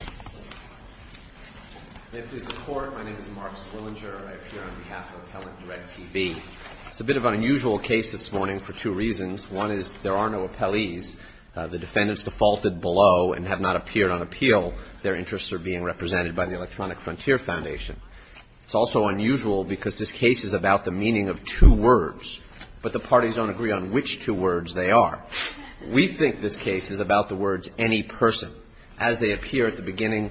My name is Mark Swillinger. I appear on behalf of Appellant DirectTV. It's a bit of an unusual case this morning for two reasons. One is there are no appellees. The defendants defaulted below and have not appeared on appeal. Their interests are being represented by the Electronic Frontier Foundation. It's also unusual because this case is about the meaning of two words, but the parties don't agree on which two words they are. We think this case is about the beginning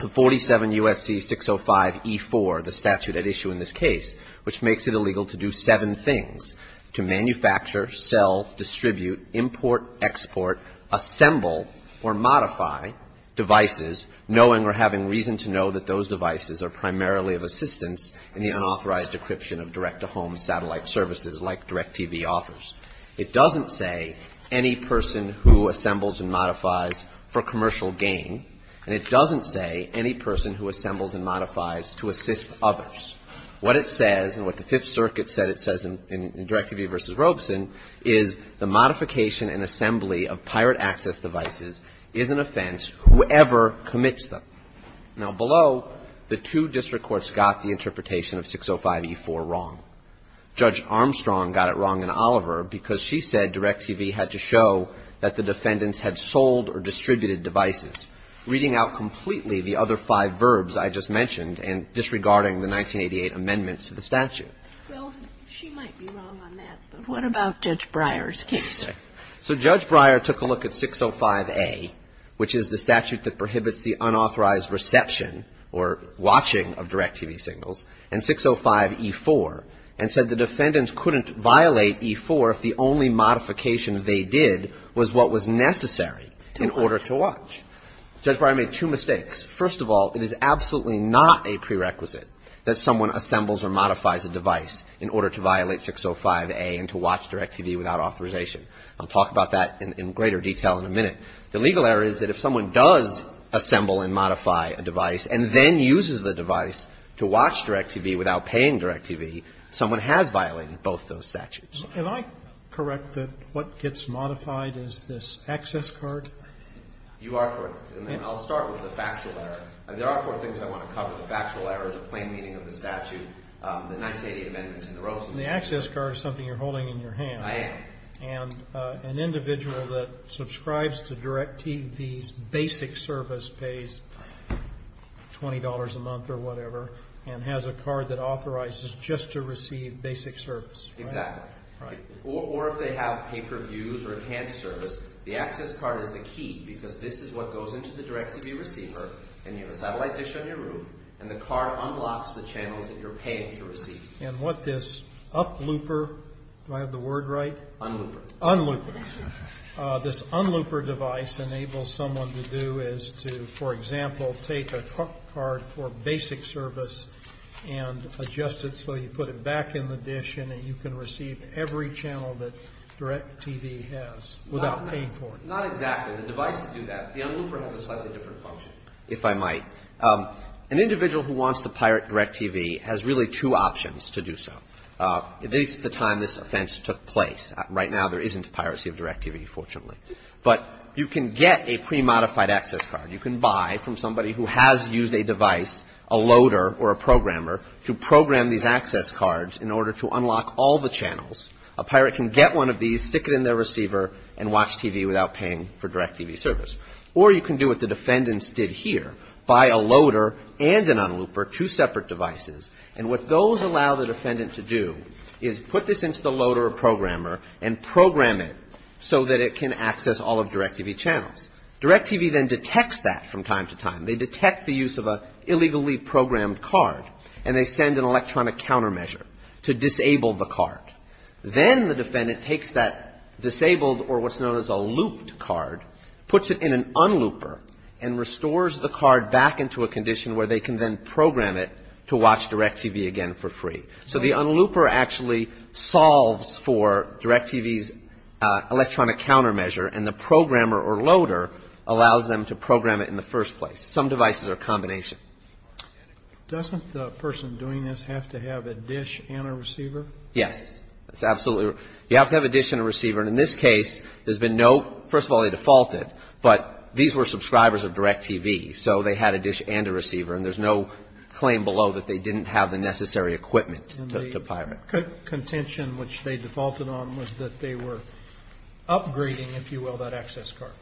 of 47 U.S.C. 605E4, the statute at issue in this case, which makes it illegal to do seven things, to manufacture, sell, distribute, import, export, assemble, or modify devices knowing or having reason to know that those devices are primarily of assistance in the unauthorized decryption of direct-to-home satellite services like DirectTV offers. It doesn't say any person who assembles and modifies for commercial gain, and it doesn't say any person who assembles and modifies to assist others. What it says, and what the Fifth Circuit said it says in DirectTV v. Robeson, is the modification and assembly of pirate access devices is an offense whoever commits them. Now, below, the two district courts got the interpretation of 605E4 wrong. Judge Armstrong got it wrong in Oliver because she said DirectTV had to show that the defendants had sold or distributed devices, reading out completely the other five verbs I just mentioned and disregarding the 1988 amendments to the statute. Well, she might be wrong on that, but what about Judge Breyer's case? So Judge Breyer took a look at 605A, which is the statute that prohibits the unauthorized reception or watching of DirectTV signals, and 605E4 and said the defendants couldn't violate E4 if the only modification they did was what was necessary in order to watch. Judge Breyer made two mistakes. First of all, it is absolutely not a prerequisite that someone assembles or modifies a device in order to violate 605A and to watch DirectTV without authorization. I'll talk about that in greater detail in a minute. The legal error is that if someone does assemble and modify a device and then uses the both those statutes. Can I correct that what gets modified is this access card? You are correct. And then I'll start with the factual error. There are four things I want to cover. The factual error is a plain meaning of the statute, the 1988 amendments and the Rosenthal statute. The access card is something you're holding in your hand. I am. And an individual that subscribes to DirectTV's basic service pays $20 a month or whatever and has a card that authorizes just to receive basic service. Exactly. Or if they have pay-per-views or enhanced service, the access card is the key because this is what goes into the DirectTV receiver and you have a satellite dish on your room and the card unlocks the channels that you're paying to receive. And what this up looper, do I have the word right? Unlooper. Unlooper. This unlooper device enables someone to do is to, for example, take a card for basic service and adjust it so you put it back in the dish and you can receive every channel that DirectTV has without paying for it. Not exactly. The devices do that. The unlooper has a slightly different function, if I might. An individual who wants to pirate DirectTV has really two options to do so. At least at the time this offense took place. Right now there isn't piracy of DirectTV, fortunately. But you can get a pre-modified access card. You can buy from somebody who has used a device, a loader or a programmer, to program these access cards in order to unlock all the channels. A pirate can get one of these, stick it in their receiver and watch TV without paying for DirectTV service. Or you can do what the defendants did here. Buy a loader and an unlooper, two separate devices. And what those allow the defendant to do is put this into the loader or programmer and program it so that it can access all of DirectTV channels. DirectTV then detects that from time to time. They detect the use of an illegally programmed card and they send an electronic countermeasure to disable the card. Then the defendant takes that disabled or what's known as a looped card, puts it in an unlooper and restores the card back into a condition where they can then program it to watch DirectTV again for free. So the unlooper actually solves for DirectTV's electronic countermeasure and the programmer or loader allows them to program it in the first place. Some devices are a combination. Doesn't the person doing this have to have a dish and a receiver? Yes, absolutely. You have to have a dish and a receiver. In this case, there's been no, first of all they defaulted, but these were subscribers of DirectTV so they had a dish and a receiver and there's no claim below that they didn't have the necessary equipment to pirate. And the contention which they defaulted on was that they were upgrading, if you will, that access card.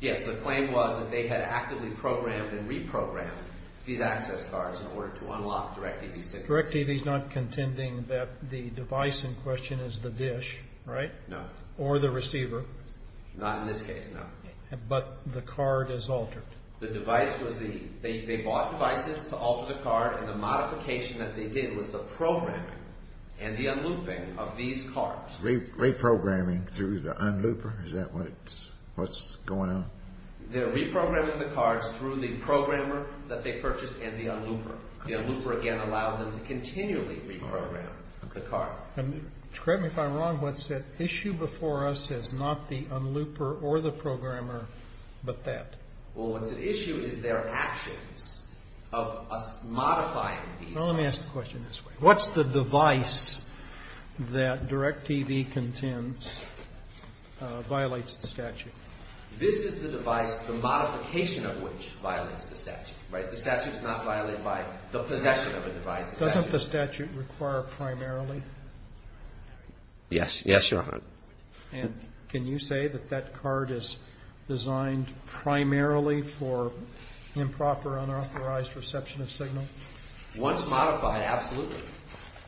Yes, the claim was that they had actively programmed and reprogrammed these access cards in order to unlock DirectTV. DirectTV's not contending that the device in question is the dish, right? No. Or the receiver. Not in this case, no. But the card is altered. The device was the, they bought devices to alter the card and the modification that they did was the programming and the unlooping of these cards. Reprogramming through the unlooper? Is that what's going on? They're reprogramming the cards through the programmer that they purchased and the unlooper. The unlooper again allows them to continually reprogram the card. And correct me if I'm wrong, what's the issue before us is not the unlooper or the programmer, but that? Well, what's at issue is their actions of us modifying these cards. Let me ask the question this way. What's the device that DirectTV contends violates the statute? This is the device, the modification of which violates the statute, right? The statute is not violated by the possession of a device. Doesn't the statute require primarily? Yes. Yes, Your Honor. And can you say that that card is designed primarily for improper, unauthorized reception of signal? Once modified, absolutely.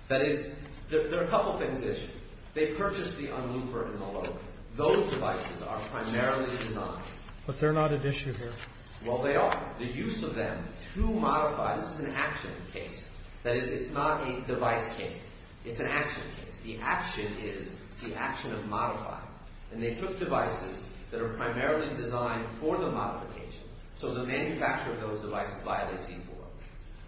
That is, there are a couple things at issue. They purchased the unlooper and the loader. Those devices are primarily designed. But they're not at issue here. Well, they are. The use of them to modify, this is an action case. That is, it's not a device case. It's an action case. The action is the action of modifying. And they took devices that are primarily designed for the modification. So the manufacture of those devices violates E-4.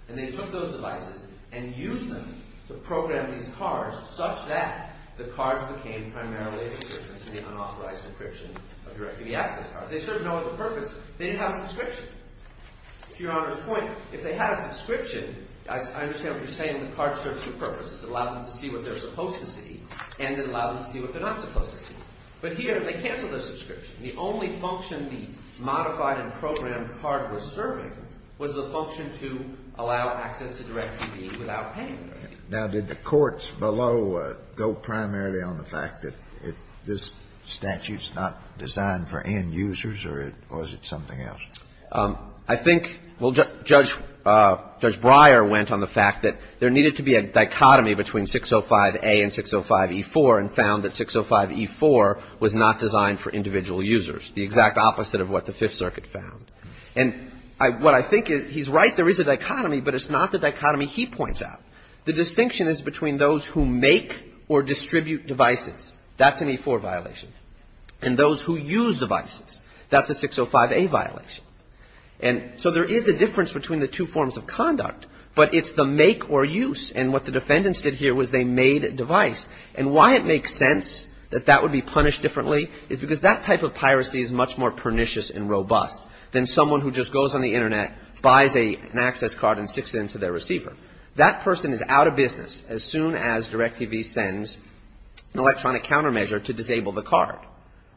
And they took those devices and used them to program these cards such that the cards became primarily a subscription to the unauthorized encryption of DirectTV access cards. They serve no other purpose. They didn't have a subscription. To Your Honor's point, if they had a subscription, I understand what you're saying, the cards serve two purposes. It allowed them to see what they're supposed to see and it allowed them to see what they're not supposed to see. But here, they canceled their subscription. The only function the modified and programmed card was serving was the function to allow access to DirectTV without paying. Now, did the courts below go primarily on the fact that this statute's not designed for end users or is it something else? I think, well, Judge Breyer went on the fact that there needed to be a dichotomy between 605A and 605E4 and found that 605E4 was not designed for individual users, the exact opposite of what the Fifth Circuit found. And what I think is, he's right, there is a dichotomy, but it's not the dichotomy he points out. The distinction is between those who make or distribute devices. That's an E-4 violation. And those who use devices, that's a 605A violation. And so there is a difference between the two forms of conduct, but it's the make or use. And what the defendants did here was they made a device. And why it makes sense that that would be punished differently is because that type of piracy is much more pernicious and robust than someone who just goes on the Internet, buys an access card, and sticks it into their receiver. That person is out of business as soon as DirectTV sends an electronic countermeasure to disable the card,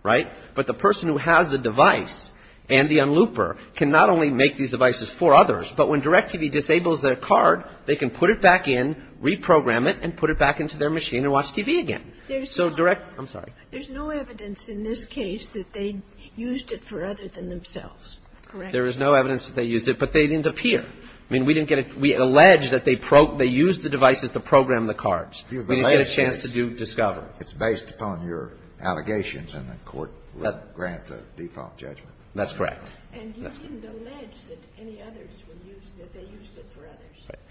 right? But the person who has the device and the unlooper can not only make these devices for others, but when DirectTV disables their card, they can put it back in, reprogram it, and put it back into their machine and watch TV again. So Direct... I'm sorry. There's no evidence in this case that they used it for other than themselves, correct? There is no evidence that they used it, but they didn't appear. I mean, we didn't get it. We allege that they used the devices to program the cards. We didn't get a chance to discover. It's based upon your allegations, and the Court would grant a default judgment. That's correct.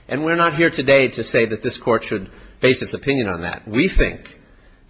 And we're not here today to say that this Court should base its opinion on that. We think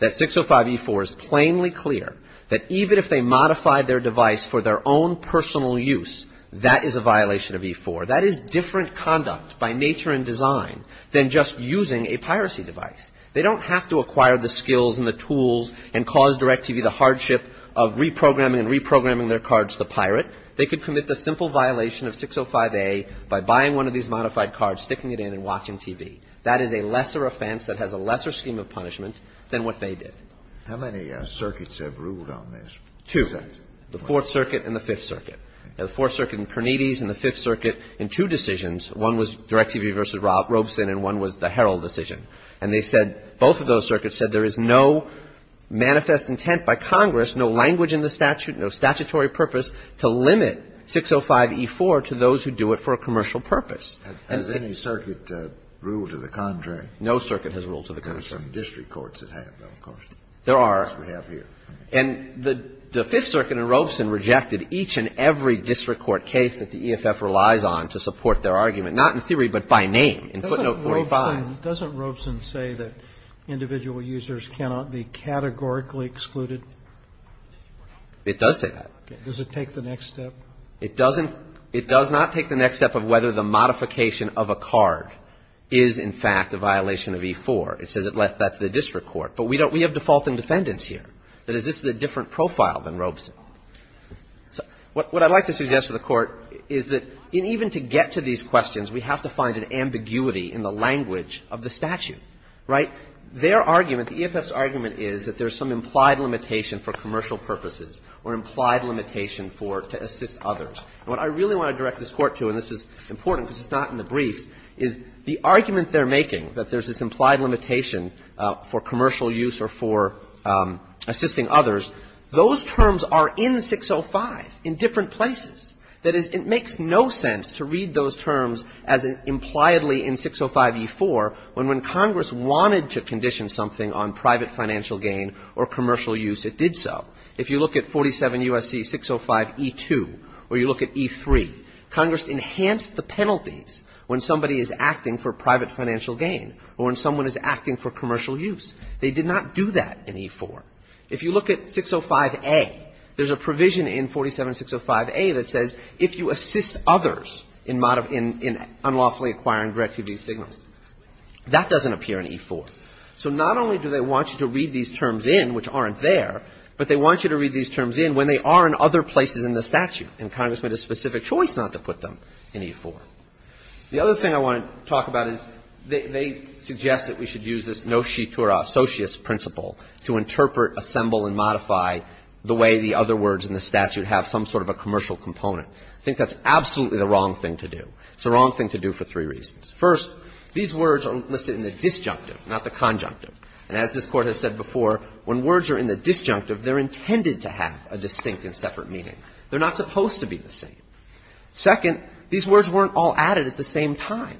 that 605E4 is plainly clear that even if they modify their device for their own personal use, that is a violation of E4. That is different conduct by nature and design than just using a piracy device. They don't have to acquire the skills and the tools and cause DirectTV the hardship of reprogramming and reprogramming their cards to pirate. They could commit the simple violation of 605A by buying one of these modified cards, sticking it in and watching TV. That is a lesser offense that has a lesser scheme of punishment than what they did. How many circuits have ruled on this? Two. The Fourth Circuit and the Fifth Circuit. The Fourth Circuit in Pernides and the Fifth Circuit in two decisions. One was DirectTV v. Robeson and one was the Herald decision. And they said, both of those circuits said there is no manifest intent by Congress, no language in the statute, no statutory purpose, to limit 605E4 to those who do it for a commercial purpose. Has any circuit ruled to the contrary? No circuit has ruled to the contrary. There are some district courts that have, of course. There are. Yes, we have here. And the Fifth Circuit and Robeson rejected each and every district court case that the EFF relies on to support their argument. Not in theory, but by name. Doesn't Robeson say that individual users cannot be categorically excluded? It does say that. Does it take the next step? It doesn't. It does not take the next step of whether the modification of a card is, in fact, a violation of E4. It says it left that to the district court. But we have defaulting defendants here. That is, this is a different profile than Robeson. What I'd like to suggest to the Court is that even to get to these questions, we have to find an ambiguity in the language of the statute. Right? Their argument, the EFF's argument, is that there's some implied limitation for commercial purposes or implied limitation for to assist others. What I really want to direct this Court to, and this is important because it's not in the briefs, is the argument they're making that there's this implied limitation for commercial use or for assisting others, those terms are in 605 in different places. That is, it makes no sense to read those terms as impliedly in 605E4 when Congress wanted to condition something on private financial gain or commercial use, it did so. If you look at 47 U.S.C. 605E2 or you look at E3, Congress enhanced the penalties when somebody is acting for private financial gain or when someone is acting for commercial use. They did not do that in E4. If you look at 605A, there's a provision in 47605A that says if you assist others in unlawfully acquiring direct TV signals. That doesn't appear in E4. So not only do they want you to read these terms in, which aren't there, but they want you to read these terms in when they are in other places in the statute and Congress made a specific choice not to put them in E4. The other thing I want to talk about is they suggest that we should use this no-sheet or associus principle to interpret, assemble and modify the way the other words in the statute have some sort of a commercial component. I think that's absolutely the wrong thing to do. It's the wrong thing to do for three reasons. First, these words are listed in the disjunctive, not the conjunctive. And as this Court has said before, when words are in the disjunctive, they're intended to have a distinct and separate meaning. They're not supposed to be the same. Second, these words weren't all added at the same time.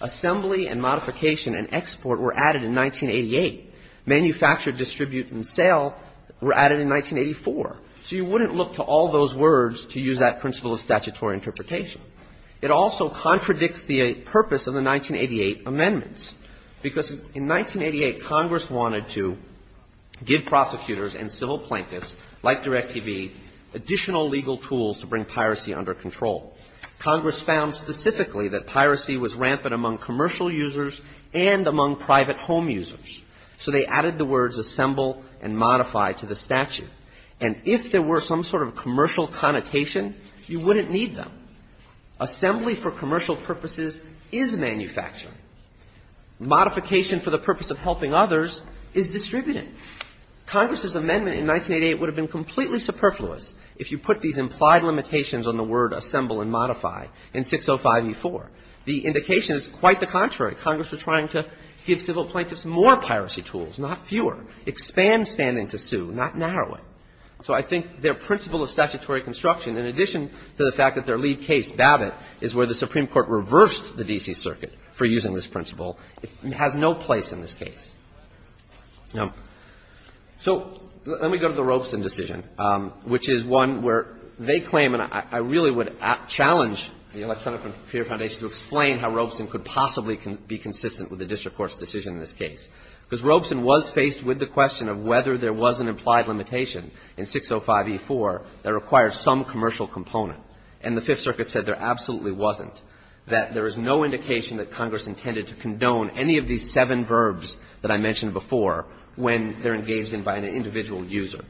Assembly and modification and export were added in 1988. Manufacture, distribute and sale were added in 1984. So you wouldn't look to all those words to use that principle of statutory interpretation. It also contradicts the purpose of the 1988 amendments because in 1988 Congress wanted to give prosecutors and civil plaintiffs like Direct-TV additional legal tools to bring piracy under control. Congress found specifically that piracy was rampant among commercial users and among private home users. So they added the words assemble and modify to the statute. And if there were some sort of commercial connotation, you wouldn't need them. Assembly for commercial purposes is manufacturing. Modification for the purpose of helping others is distributing. Congress's amendment in 1988 would have been completely superfluous if you put these implied limitations on the word assemble and modify in 605E4. The indication is quite the contrary. Congress was trying to give civil plaintiffs more piracy tools, not fewer. Expand standing to sue, not narrow it. So I think their principle of statutory construction in addition to the fact that their lead case, Babbitt, is where the Supreme Court reversed the D.C. Circuit for using this principle has no place in this case. Now, so let me go to the Robeson decision, which is one where they claim, and I really would challenge the Electronic Computer Foundation to explain how Robeson could possibly be consistent with the district court's decision in this case. Because Robeson was faced with the question of whether there was an item in 605E4 that required some commercial component. And the Fifth Circuit said there absolutely wasn't, that there is no indication that Congress intended to condone any of these seven verbs that I mentioned before when they're engaged in by an individual user.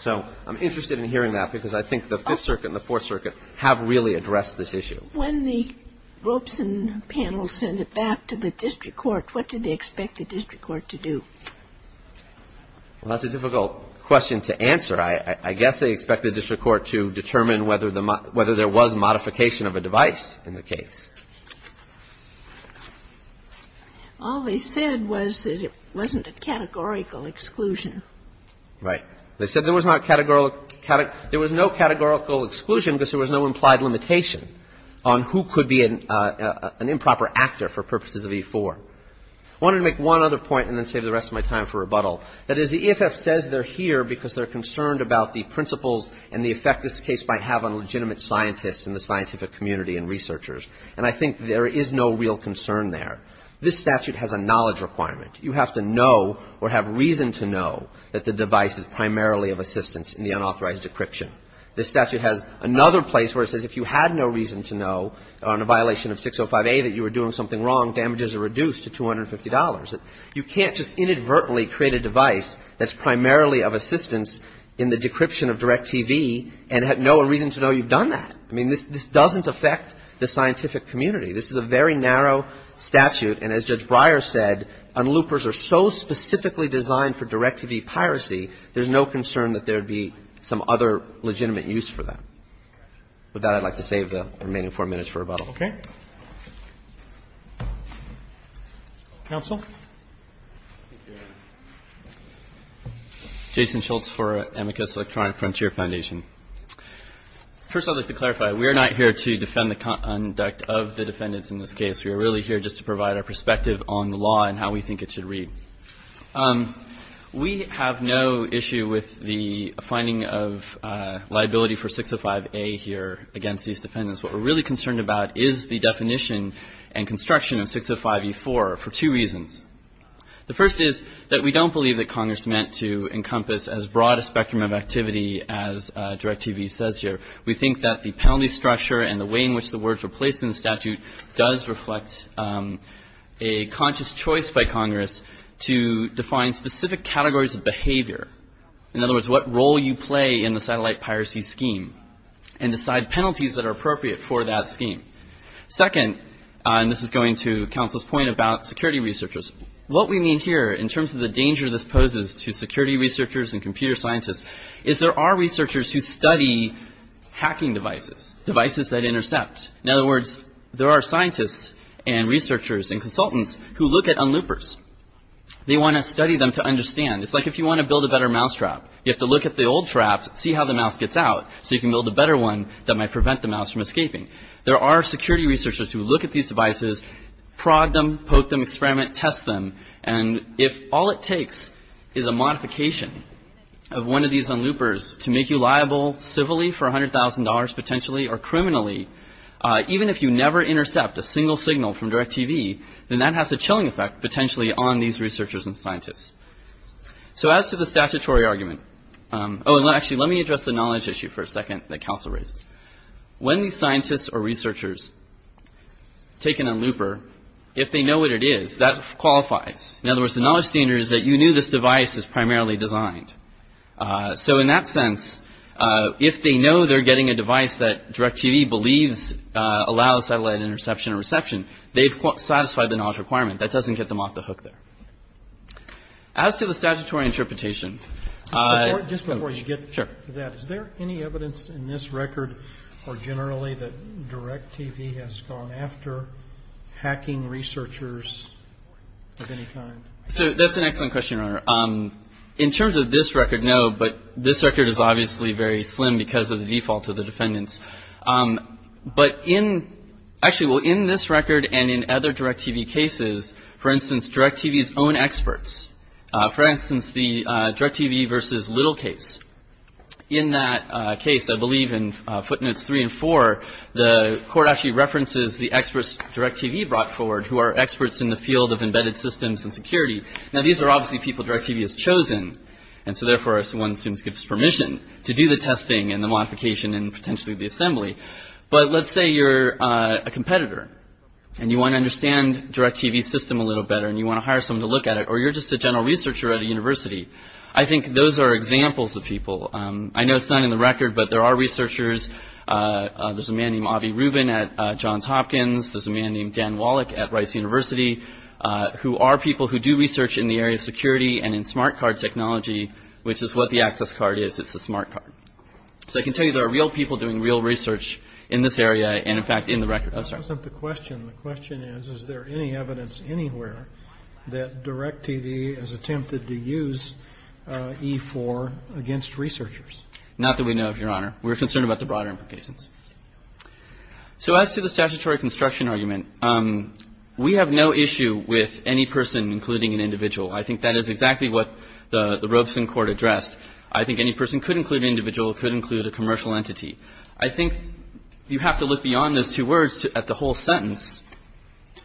So I'm interested in hearing that because I think the Fifth Circuit and the Fourth Circuit have really addressed this issue. When the Robeson panel sent it back to the district court, what did they expect the district court to do? Well, that's a difficult question to answer. I guess they expected the district court to determine whether there was modification of a device in the case. All they said was that it wasn't a categorical exclusion. Right. They said there was no categorical exclusion because there was no implied limitation on who could be an improper actor for purposes of E4. I wanted to make one other point and then save the rest of my time for here because they're concerned about the principles and the effect this case might have on legitimate scientists in the scientific community and researchers. And I think there is no real concern there. This statute has a knowledge requirement. You have to know or have reason to know that the device is primarily of assistance in the unauthorized decryption. This statute has another place where it says if you had no reason to know on a violation of 605A that you were doing something wrong, damages are reduced to $250. You can't just inadvertently create a device that's primarily of assistance in the decryption of DirecTV and have no reason to know you've done that. I mean, this doesn't affect the scientific community. This is a very narrow statute and as Judge Breyer said, unloopers are so specifically designed for DirecTV piracy, there's no concern that there'd be some other legitimate use for them. With that, I'd like to save the remaining four minutes for rebuttal. Okay. Counsel? Jason Schultz for Amicus Electronic Frontier Foundation. First, I'd like to clarify. We are not here to defend the conduct of the defendants in this case. We are really here just to provide our perspective on the law and how we think it should read. We have no issue with the finding of liability for 605A here against these defendants. What we're really concerned about is the definition and construction of 605E4 for two reasons. The first is that we don't believe that Congress meant to encompass as broad a spectrum of activity as DirecTV says here. We think that the penalty structure and the way in which the words were placed in the statute does reflect a conscious choice by Congress to define specific categories of behavior. In other words, what role you play in the satellite piracy scheme and decide penalties that are appropriate for that scheme. Second, and this is going to Counsel's point about security researchers, what we mean here in terms of the danger this poses to security researchers and computer scientists is there are researchers who study hacking devices, devices that intercept. In other words, there are scientists and researchers and consultants who look at unloopers. They want to study them to understand. It's like if you want to build a better mousetrap. You have to look at the old traps, see how the mouse gets out, so you can build a better one that might prevent the mouse from escaping. There are security researchers who look at these devices, prod them, poke them, experiment, test them, and if all it takes is a modification of one of these unloopers to make you liable civilly for $100,000, potentially, or criminally, even if you never then that has a chilling effect, potentially, on these researchers and scientists. So as to the statutory argument, oh, and actually, let me address the knowledge issue for a second that Council raises. When these scientists or researchers take in a looper, if they know what it is, that qualifies. In other words, the knowledge standard is that you knew this device is primarily designed. So in that sense, if they know they're getting a device that DirecTV believes allows satellite interception and reception, they've satisfied the knowledge requirement. That doesn't get them off the hook there. As to the statutory interpretation, I... Just before you get to that, is there any evidence in this record or generally that DirecTV has gone after hacking researchers of any kind? So that's an excellent question, Your Honor. In terms of this record, no, but this record is obviously very slim because of the default of the defendants. But in actually, well, in this record and in other DirecTV cases, for instance, DirecTV's own experts. For instance, the DirecTV v. Little case. In that case, I believe in footnotes 3 and 4, the court actually references the experts DirecTV brought forward who are experts in the field of embedded systems and security. Now these are obviously people DirecTV has chosen, and so therefore one assumes gives permission to do the testing and the modification and potentially the assembly. But let's say you're a competitor, and you want to understand DirecTV's system a little better, and you want to hire someone to look at it, or you're just a general researcher at a university. I think those are examples of people. I know it's not in the record, but there are researchers. There's a man named Avi Rubin at Johns Hopkins. There's a man named Dan Wallach at Rice University who are people who do research in the area of security and in smart card technology, which is what the access card is. It's a smart card. So I can tell you there are real people doing real research in this area, and in fact in the record. I'm sorry. The question is, is there any evidence anywhere that DirecTV has attempted to use E4 against researchers? Not that we know, Your Honor. We're concerned about the broader implications. So as to the statutory construction argument, we have no issue with any person including an individual. I think that is exactly what the Robeson court addressed. I think any person could include an individual, could include a commercial entity. I think you have to look beyond those two words at the whole sentence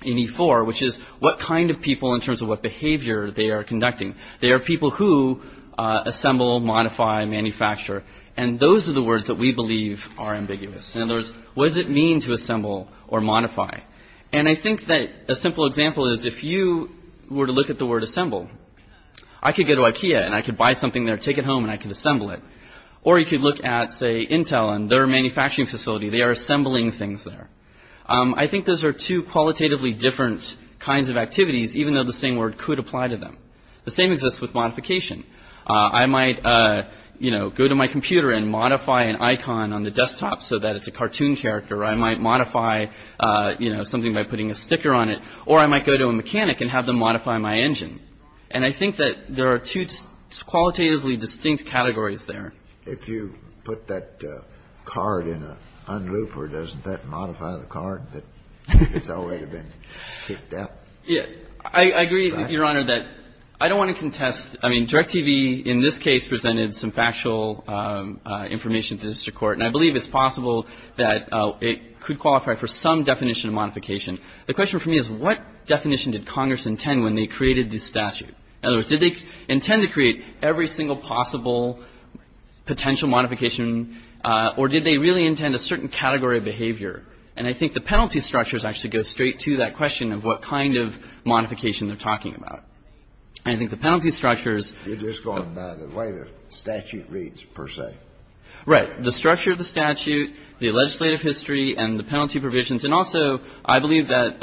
in E4, which is what kind of people in terms of what behavior they are conducting. They are people who assemble, modify, manufacture. And those are the words that we believe are ambiguous. In other words, what does it mean to assemble or modify? And I think that a simple example is if you were to look at the word assemble, I could go to Ikea and I could buy something there, take it home, and I could assemble it. Or you could look at, say, Motel and their manufacturing facility. They are assembling things there. I think those are two qualitatively different kinds of activities, even though the same word could apply to them. The same exists with modification. I might, you know, go to my computer and modify an icon on the desktop so that it's a cartoon character. I might modify, you know, something by putting a sticker on it. Or I might go to a mechanic and have them modify my engine. And I think that there are two qualitatively distinct categories there. If you put that card in an unlooper, doesn't that modify the card that has already been kicked out? Yeah. I agree, Your Honor, that I don't want to contest. I mean, DIRECTV in this case presented some factual information to the district court, and I believe it's possible that it could qualify for some definition of modification. The question for me is what definition did Congress intend when they created this statute? In other words, did they intend potential modification, or did they really intend a certain category of behavior? And I think the penalty structures actually go straight to that question of what kind of modification they're talking about. And I think the penalty structures You're just going by the way the statute reads, per se. Right. The structure of the statute, the legislative history, and the penalty provisions, and also, I believe that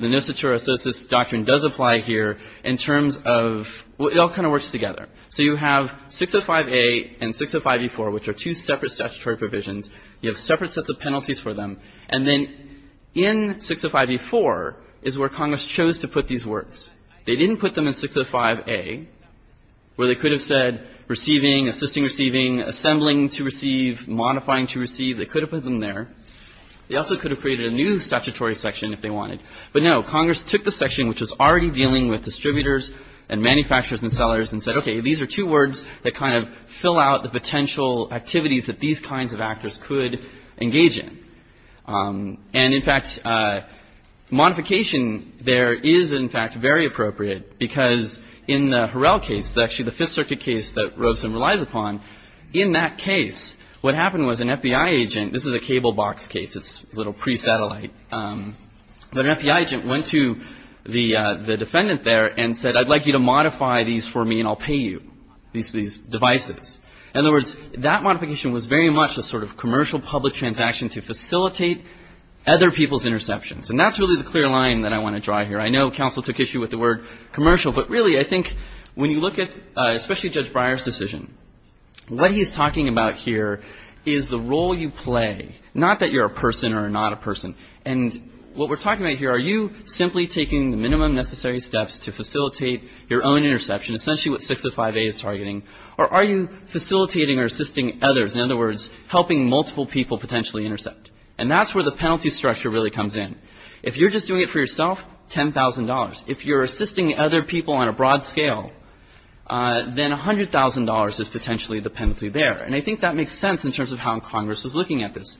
the Nostitura-Sosis doctrine does apply here in terms of well, it all kind of works together. So you have 605A and 605E4, which are two separate statutory provisions. You have separate sets of penalties for them. And then in 605E4 is where Congress chose to put these words. They didn't put them in 605A, where they could have said receiving, assisting receiving, assembling to receive, modifying to receive. They could have put them there. They also could have created a new statutory section if they wanted. But no, Congress took the section which was already dealing with distributors and manufacturers and sellers and said, okay, these are two words that kind of fill out the potential activities that these kinds of actors could engage in. And, in fact, modification there is in fact very appropriate because in the Harrell case, actually the Fifth Circuit case that Robeson relies upon, in that case, what happened was an FBI agent, this is a cable box case, it's a little pre-satellite, but an FBI agent went to the defendant there and said I'd like you to modify these for me and I'll pay you these devices. In other words, that modification was very much a sort of commercial public transaction to facilitate other people's interceptions. And that's really the clear line that I want to draw here. I know counsel took issue with the word commercial, but really I think when you look at especially Judge Breyer's decision, what he's talking about here is the role you play, not that you're a person or not a person. And what we're talking about here, are you simply taking the minimum necessary steps to facilitate your own interception, essentially what 605A is targeting, or are you facilitating or assisting others, in other words, helping multiple people potentially intercept? And that's where the penalty structure really comes in. If you're just doing it for yourself, $10,000. If you're assisting other people on a broad scale, then $100,000 is potentially the penalty there. And I think that makes sense in terms of how Congress is looking at this.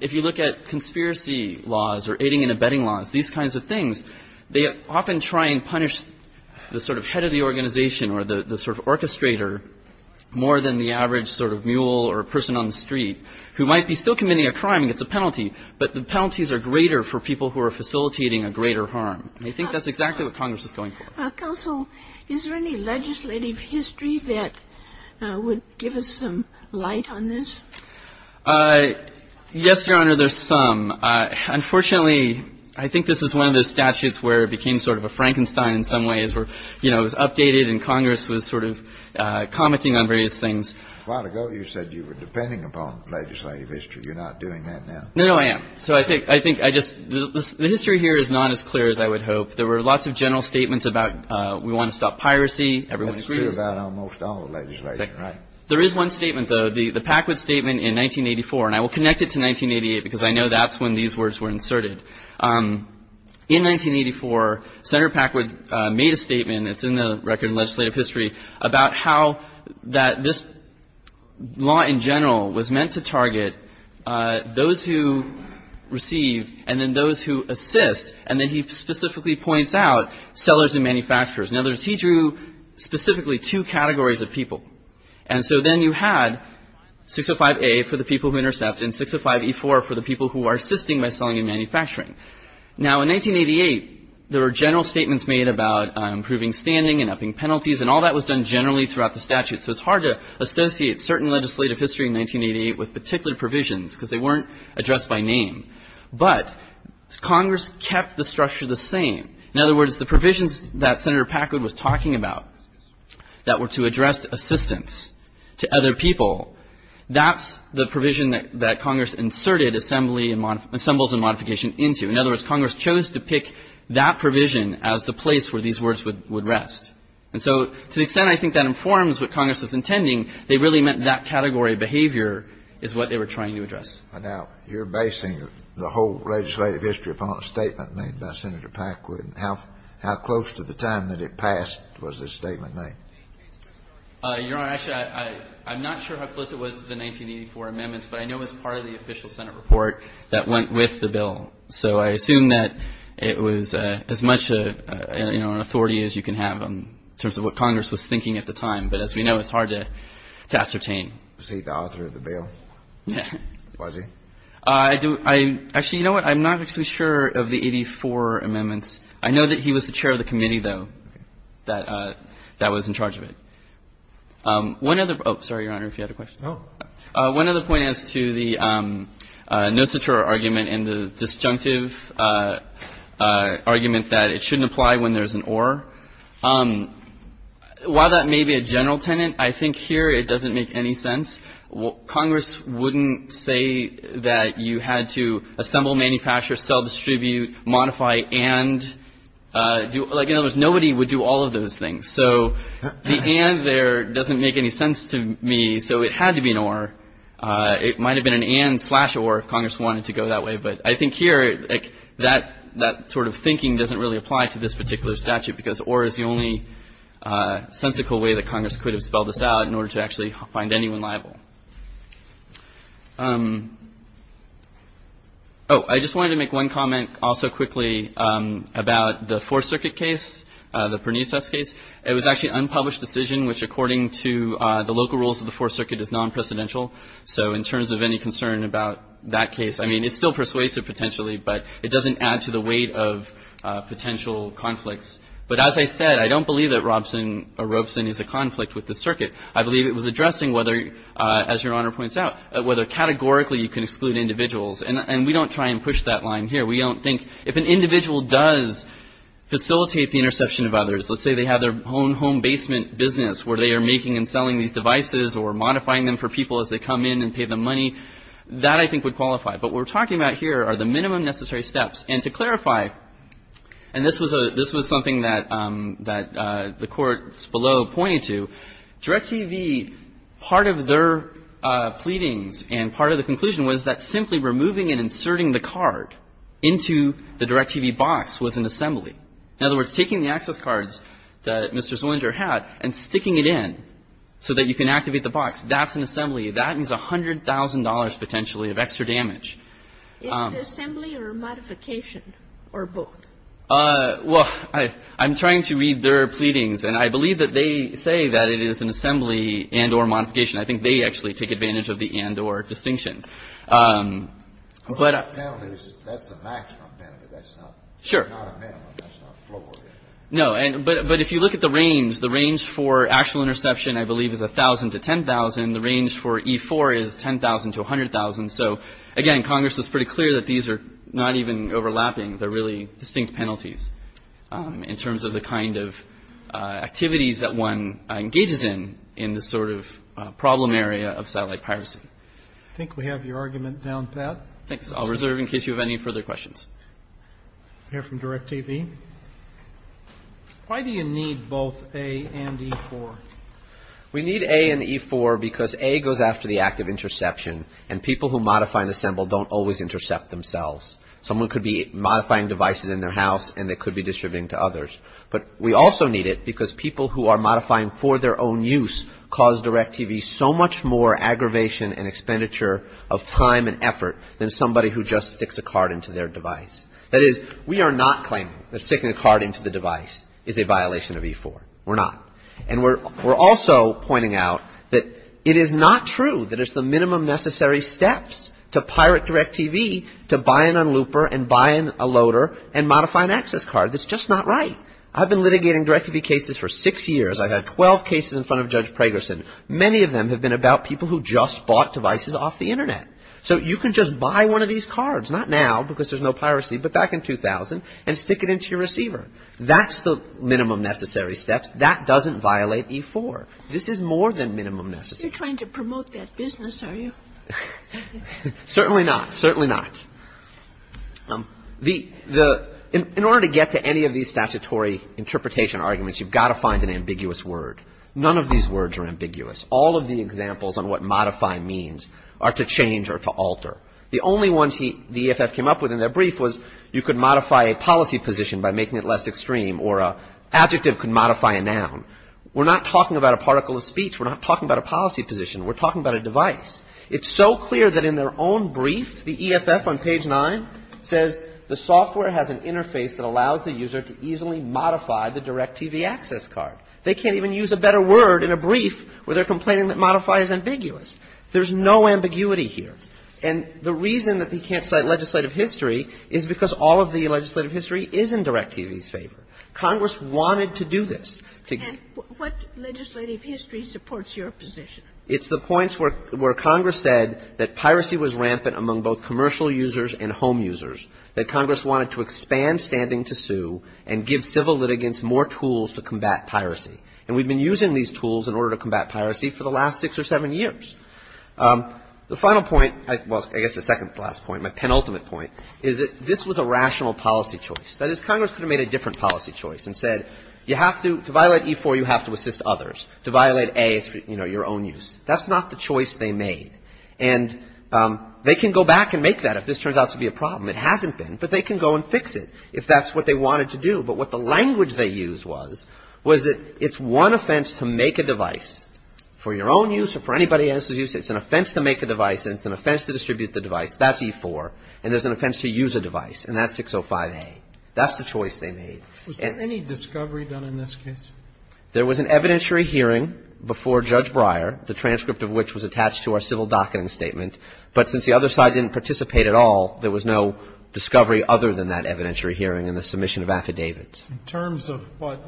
If you look at betting laws, these kinds of things, they often try and punish the sort of head of the organization or the sort of orchestrator more than the average sort of mule or person on the street who might be still committing a crime and gets a penalty, but the penalties are greater for people who are facilitating a greater harm. And I think that's exactly what Congress is going for. Counsel, is there any legislative history that would give us some light on this? Yes, Your Honor, there's some. Unfortunately, I think this is one of the statutes where it became sort of a Frankenstein in some ways where, you know, it was updated and Congress was sort of commenting on various things. A while ago, you said you were depending upon legislative history. You're not doing that now. No, no, I am. So I think I just, the history here is not as clear as I would hope. There were lots of general statements about we want to stop piracy. Everyone agrees. That's true about almost all legislation, right? There is one statement, though, the Packwood statement in 1984, and I will connect it to 1988 because I know that's when these words were inserted. In 1984, Senator Packwood made a statement, it's in the record in legislative history, about how that this law in general was meant to target those who receive and then those who assist, and then he specifically points out sellers and manufacturers. In other words, he drew specifically two categories of people. And so then you had 605A for the people who intercept and 605E4 for the people who are assisting by selling and manufacturing. Now, in 1988, there were general statements made about improving standing and upping penalties, and all that was done generally throughout the statute. So it's hard to associate certain legislative history in 1988 with particular provisions because they weren't addressed by name. But Congress kept the structure the same. In other words, the provisions that Senator Packwood was talking about that were to address assistance to other people, that's the provision that Congress inserted assembles and modification into. In other words, Congress chose to pick that provision as the place where these words would rest. And so, to the extent I think that informs what Congress was intending, they really meant that category of behavior is what they were trying to address. Now, you're basing the whole legislative history upon a statement made by Senator Packwood. How close to the time that it passed was this statement made? Your Honor, actually, I'm not sure how close it was to the 1984 amendments, but I know it was part of the official Senate report that went with the bill. So I assume that it was as much an authority as you can have in terms of what Congress was thinking at the time. But as we know, it's hard to ascertain. Was he the author of the bill? Was he? Actually, you know what? I'm not actually sure of the 84 amendments. I know that he was the chair of the committee, though, that was in charge of it. One other — oh, sorry, Your Honor, if you had a question. Oh. One other point as to the no-satura argument and the disjunctive argument that it shouldn't apply when there's an or. While that may be a general tenet, I think here it doesn't make any sense. Congress wouldn't say that you had to assemble, manufacture, sell, distribute, modify, and do — like, in other words, nobody would do all of those things. So the and there doesn't make any sense to me. So it had to be an or. It might have been an and slash or if Congress wanted to go that way. But I think here, like, that sort of thinking doesn't really apply to this particular statute because or is the only sensical way that Congress could have spelled this out in order to actually find anyone liable. Oh, I just wanted to make one comment also quickly about the Fourth Circuit case, the Pernice test case. It was actually an unpublished decision, which, according to the local rules of the Fourth Circuit, is non-precedential. So in terms of any concern about that case, I mean, it still persuades it potentially, but it doesn't add to the weight of potential conflicts. But as I said, I don't believe that Robson or Robeson is a conflict with the circuit. I believe it was addressing whether, as Your Honor points out, whether categorically you can exclude individuals. And we don't try and push that line here. We don't think if an individual does facilitate the interception of others, let's say they have their own home basement business where they are making and selling these devices or modifying them for people as they come in and pay them money, that I think would qualify. But what we're talking about here are the minimum necessary steps. And to clarify, and this was something that the courts below pointed to, Direct TV, part of their pleadings and part of the conclusion was that simply removing and inserting the card into the Direct TV box was an assembly. In other words, taking the access cards that Mr. Zoellinger had and sticking it in so that you can activate the box, that's an assembly. That is $100,000 potentially of extra damage. Ginsburg. Is it assembly or modification or both? Well, I'm trying to read their pleadings, and I believe that they say that it is an assembly and or modification. I think they actually take advantage of the and or distinction. That's a maximum penalty. That's not a minimum. That's not a floor. No. But if you look at the range, the range for actual interception, I believe, is 1,000 to 10,000. The range for E4 is 10,000 to 100,000. So, again, Congress is pretty clear that these are not even overlapping. They're really distinct penalties in terms of the kind of activities that one engages in, in this sort of problem area of satellite piracy. I think we have your argument down, Pat. Thanks. I'll reserve in case you have any further questions. We'll hear from DIRECTV. Why do you need both A and E4? We need A and E4 because A goes after the active interception, and people who modify and assemble don't always intercept themselves. Someone could be modifying devices in their house, and they could be distributing to others. But we also need it because people who are modifying for their own use cause DIRECTV so much more time and expenditure of time and effort than somebody who just sticks a card into their device. That is, we are not claiming that sticking a card into the device is a violation of E4. We're not. And we're also pointing out that it is not true that it's the minimum necessary steps to pirate DIRECTV to buy an unlooper and buy a loader and modify an access card. That's just not right. I've been litigating DIRECTV cases for six years. I've had 12 cases in front of Judge Pragerson. Many of them have been about people who just bought devices off the Internet. So you can just buy one of these cards, not now because there's no piracy, but back in 2000, and stick it into your receiver. That's the minimum necessary steps. That doesn't violate E4. This is more than minimum necessary. You're trying to promote that business, are you? Certainly not. Certainly not. In order to get to any of these statutory interpretation arguments, you've got to find an ambiguous word. None of these words are ambiguous. All of the examples on what modify means are to change or to alter. The only ones the EFF came up with in their brief was you could modify a policy position by making it less extreme or an adjective could modify a noun. We're not talking about a particle of speech. We're not talking about a policy position. We're talking about a device. It's so clear that in their own brief, the EFF on page 9 says the software has an interface that allows the user to easily modify the DIRECTV access card. They can't even use a better word in a brief where they're complaining that modify is ambiguous. There's no ambiguity here. And the reason that he can't cite legislative history is because all of the legislative history is in DIRECTV's favor. Congress wanted to do this. And what legislative history supports your position? It's the points where Congress said that piracy was rampant among both commercial users and home users, that Congress wanted to expand standing to sue and give civil litigants more tools to combat piracy. And we've been using these tools in order to combat piracy for the last six or seven years. The final point, well, I guess the second to last point, my penultimate point, is that this was a rational policy choice. That is, Congress could have made a different policy choice and said you have to, to violate E4, you have to assist others. To violate A is for, you know, your own use. That's not the choice they made. And they can go back and make that if this turns out to be a problem. It hasn't been, but they can go and fix it if that's what they wanted to do. But what the language they used was, was that it's one offense to make a device. For your own use or for anybody else's use, it's an offense to make a device and it's an offense to distribute the device. That's E4. And there's an offense to use a device, and that's 605A. That's the choice they made. And any discovery done in this case? There was an evidentiary hearing before Judge Breyer, the transcript of which was attached to our civil docketing statement. But since the other side didn't participate at all, there was no discovery other than that evidentiary hearing and the submission of affidavits. In terms of what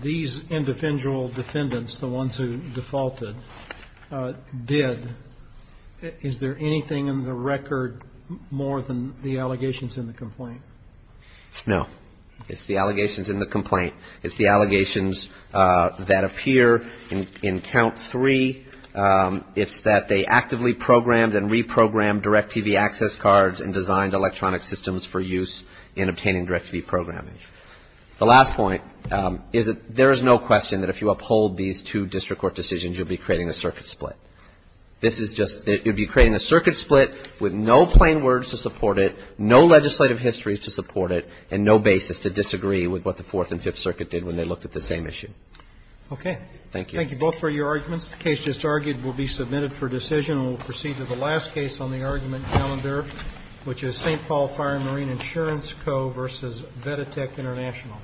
these individual defendants, the ones who defaulted, did, is there anything in the record more than the allegations in the complaint? No. It's the allegations in the complaint. It's the allegations that appear in Count 3. It's that they actively programmed and reprogrammed DirecTV access cards and designed electronic systems for use in obtaining DirecTV programming. The last point is that there is no question that if you uphold these two district court decisions, you'll be creating a circuit split. This is just you'll be creating a circuit split with no plain words to support it, no legislative history to support it, and no basis to disagree with what the Fourth and Fifth Circuit did when they looked at the same issue. Okay. Thank you. Thank you both for your arguments. The case just argued will be submitted for decision. We'll proceed to the last case on the argument calendar, which is St. Paul Fire and Marine Insurance Co. v. Veditec International.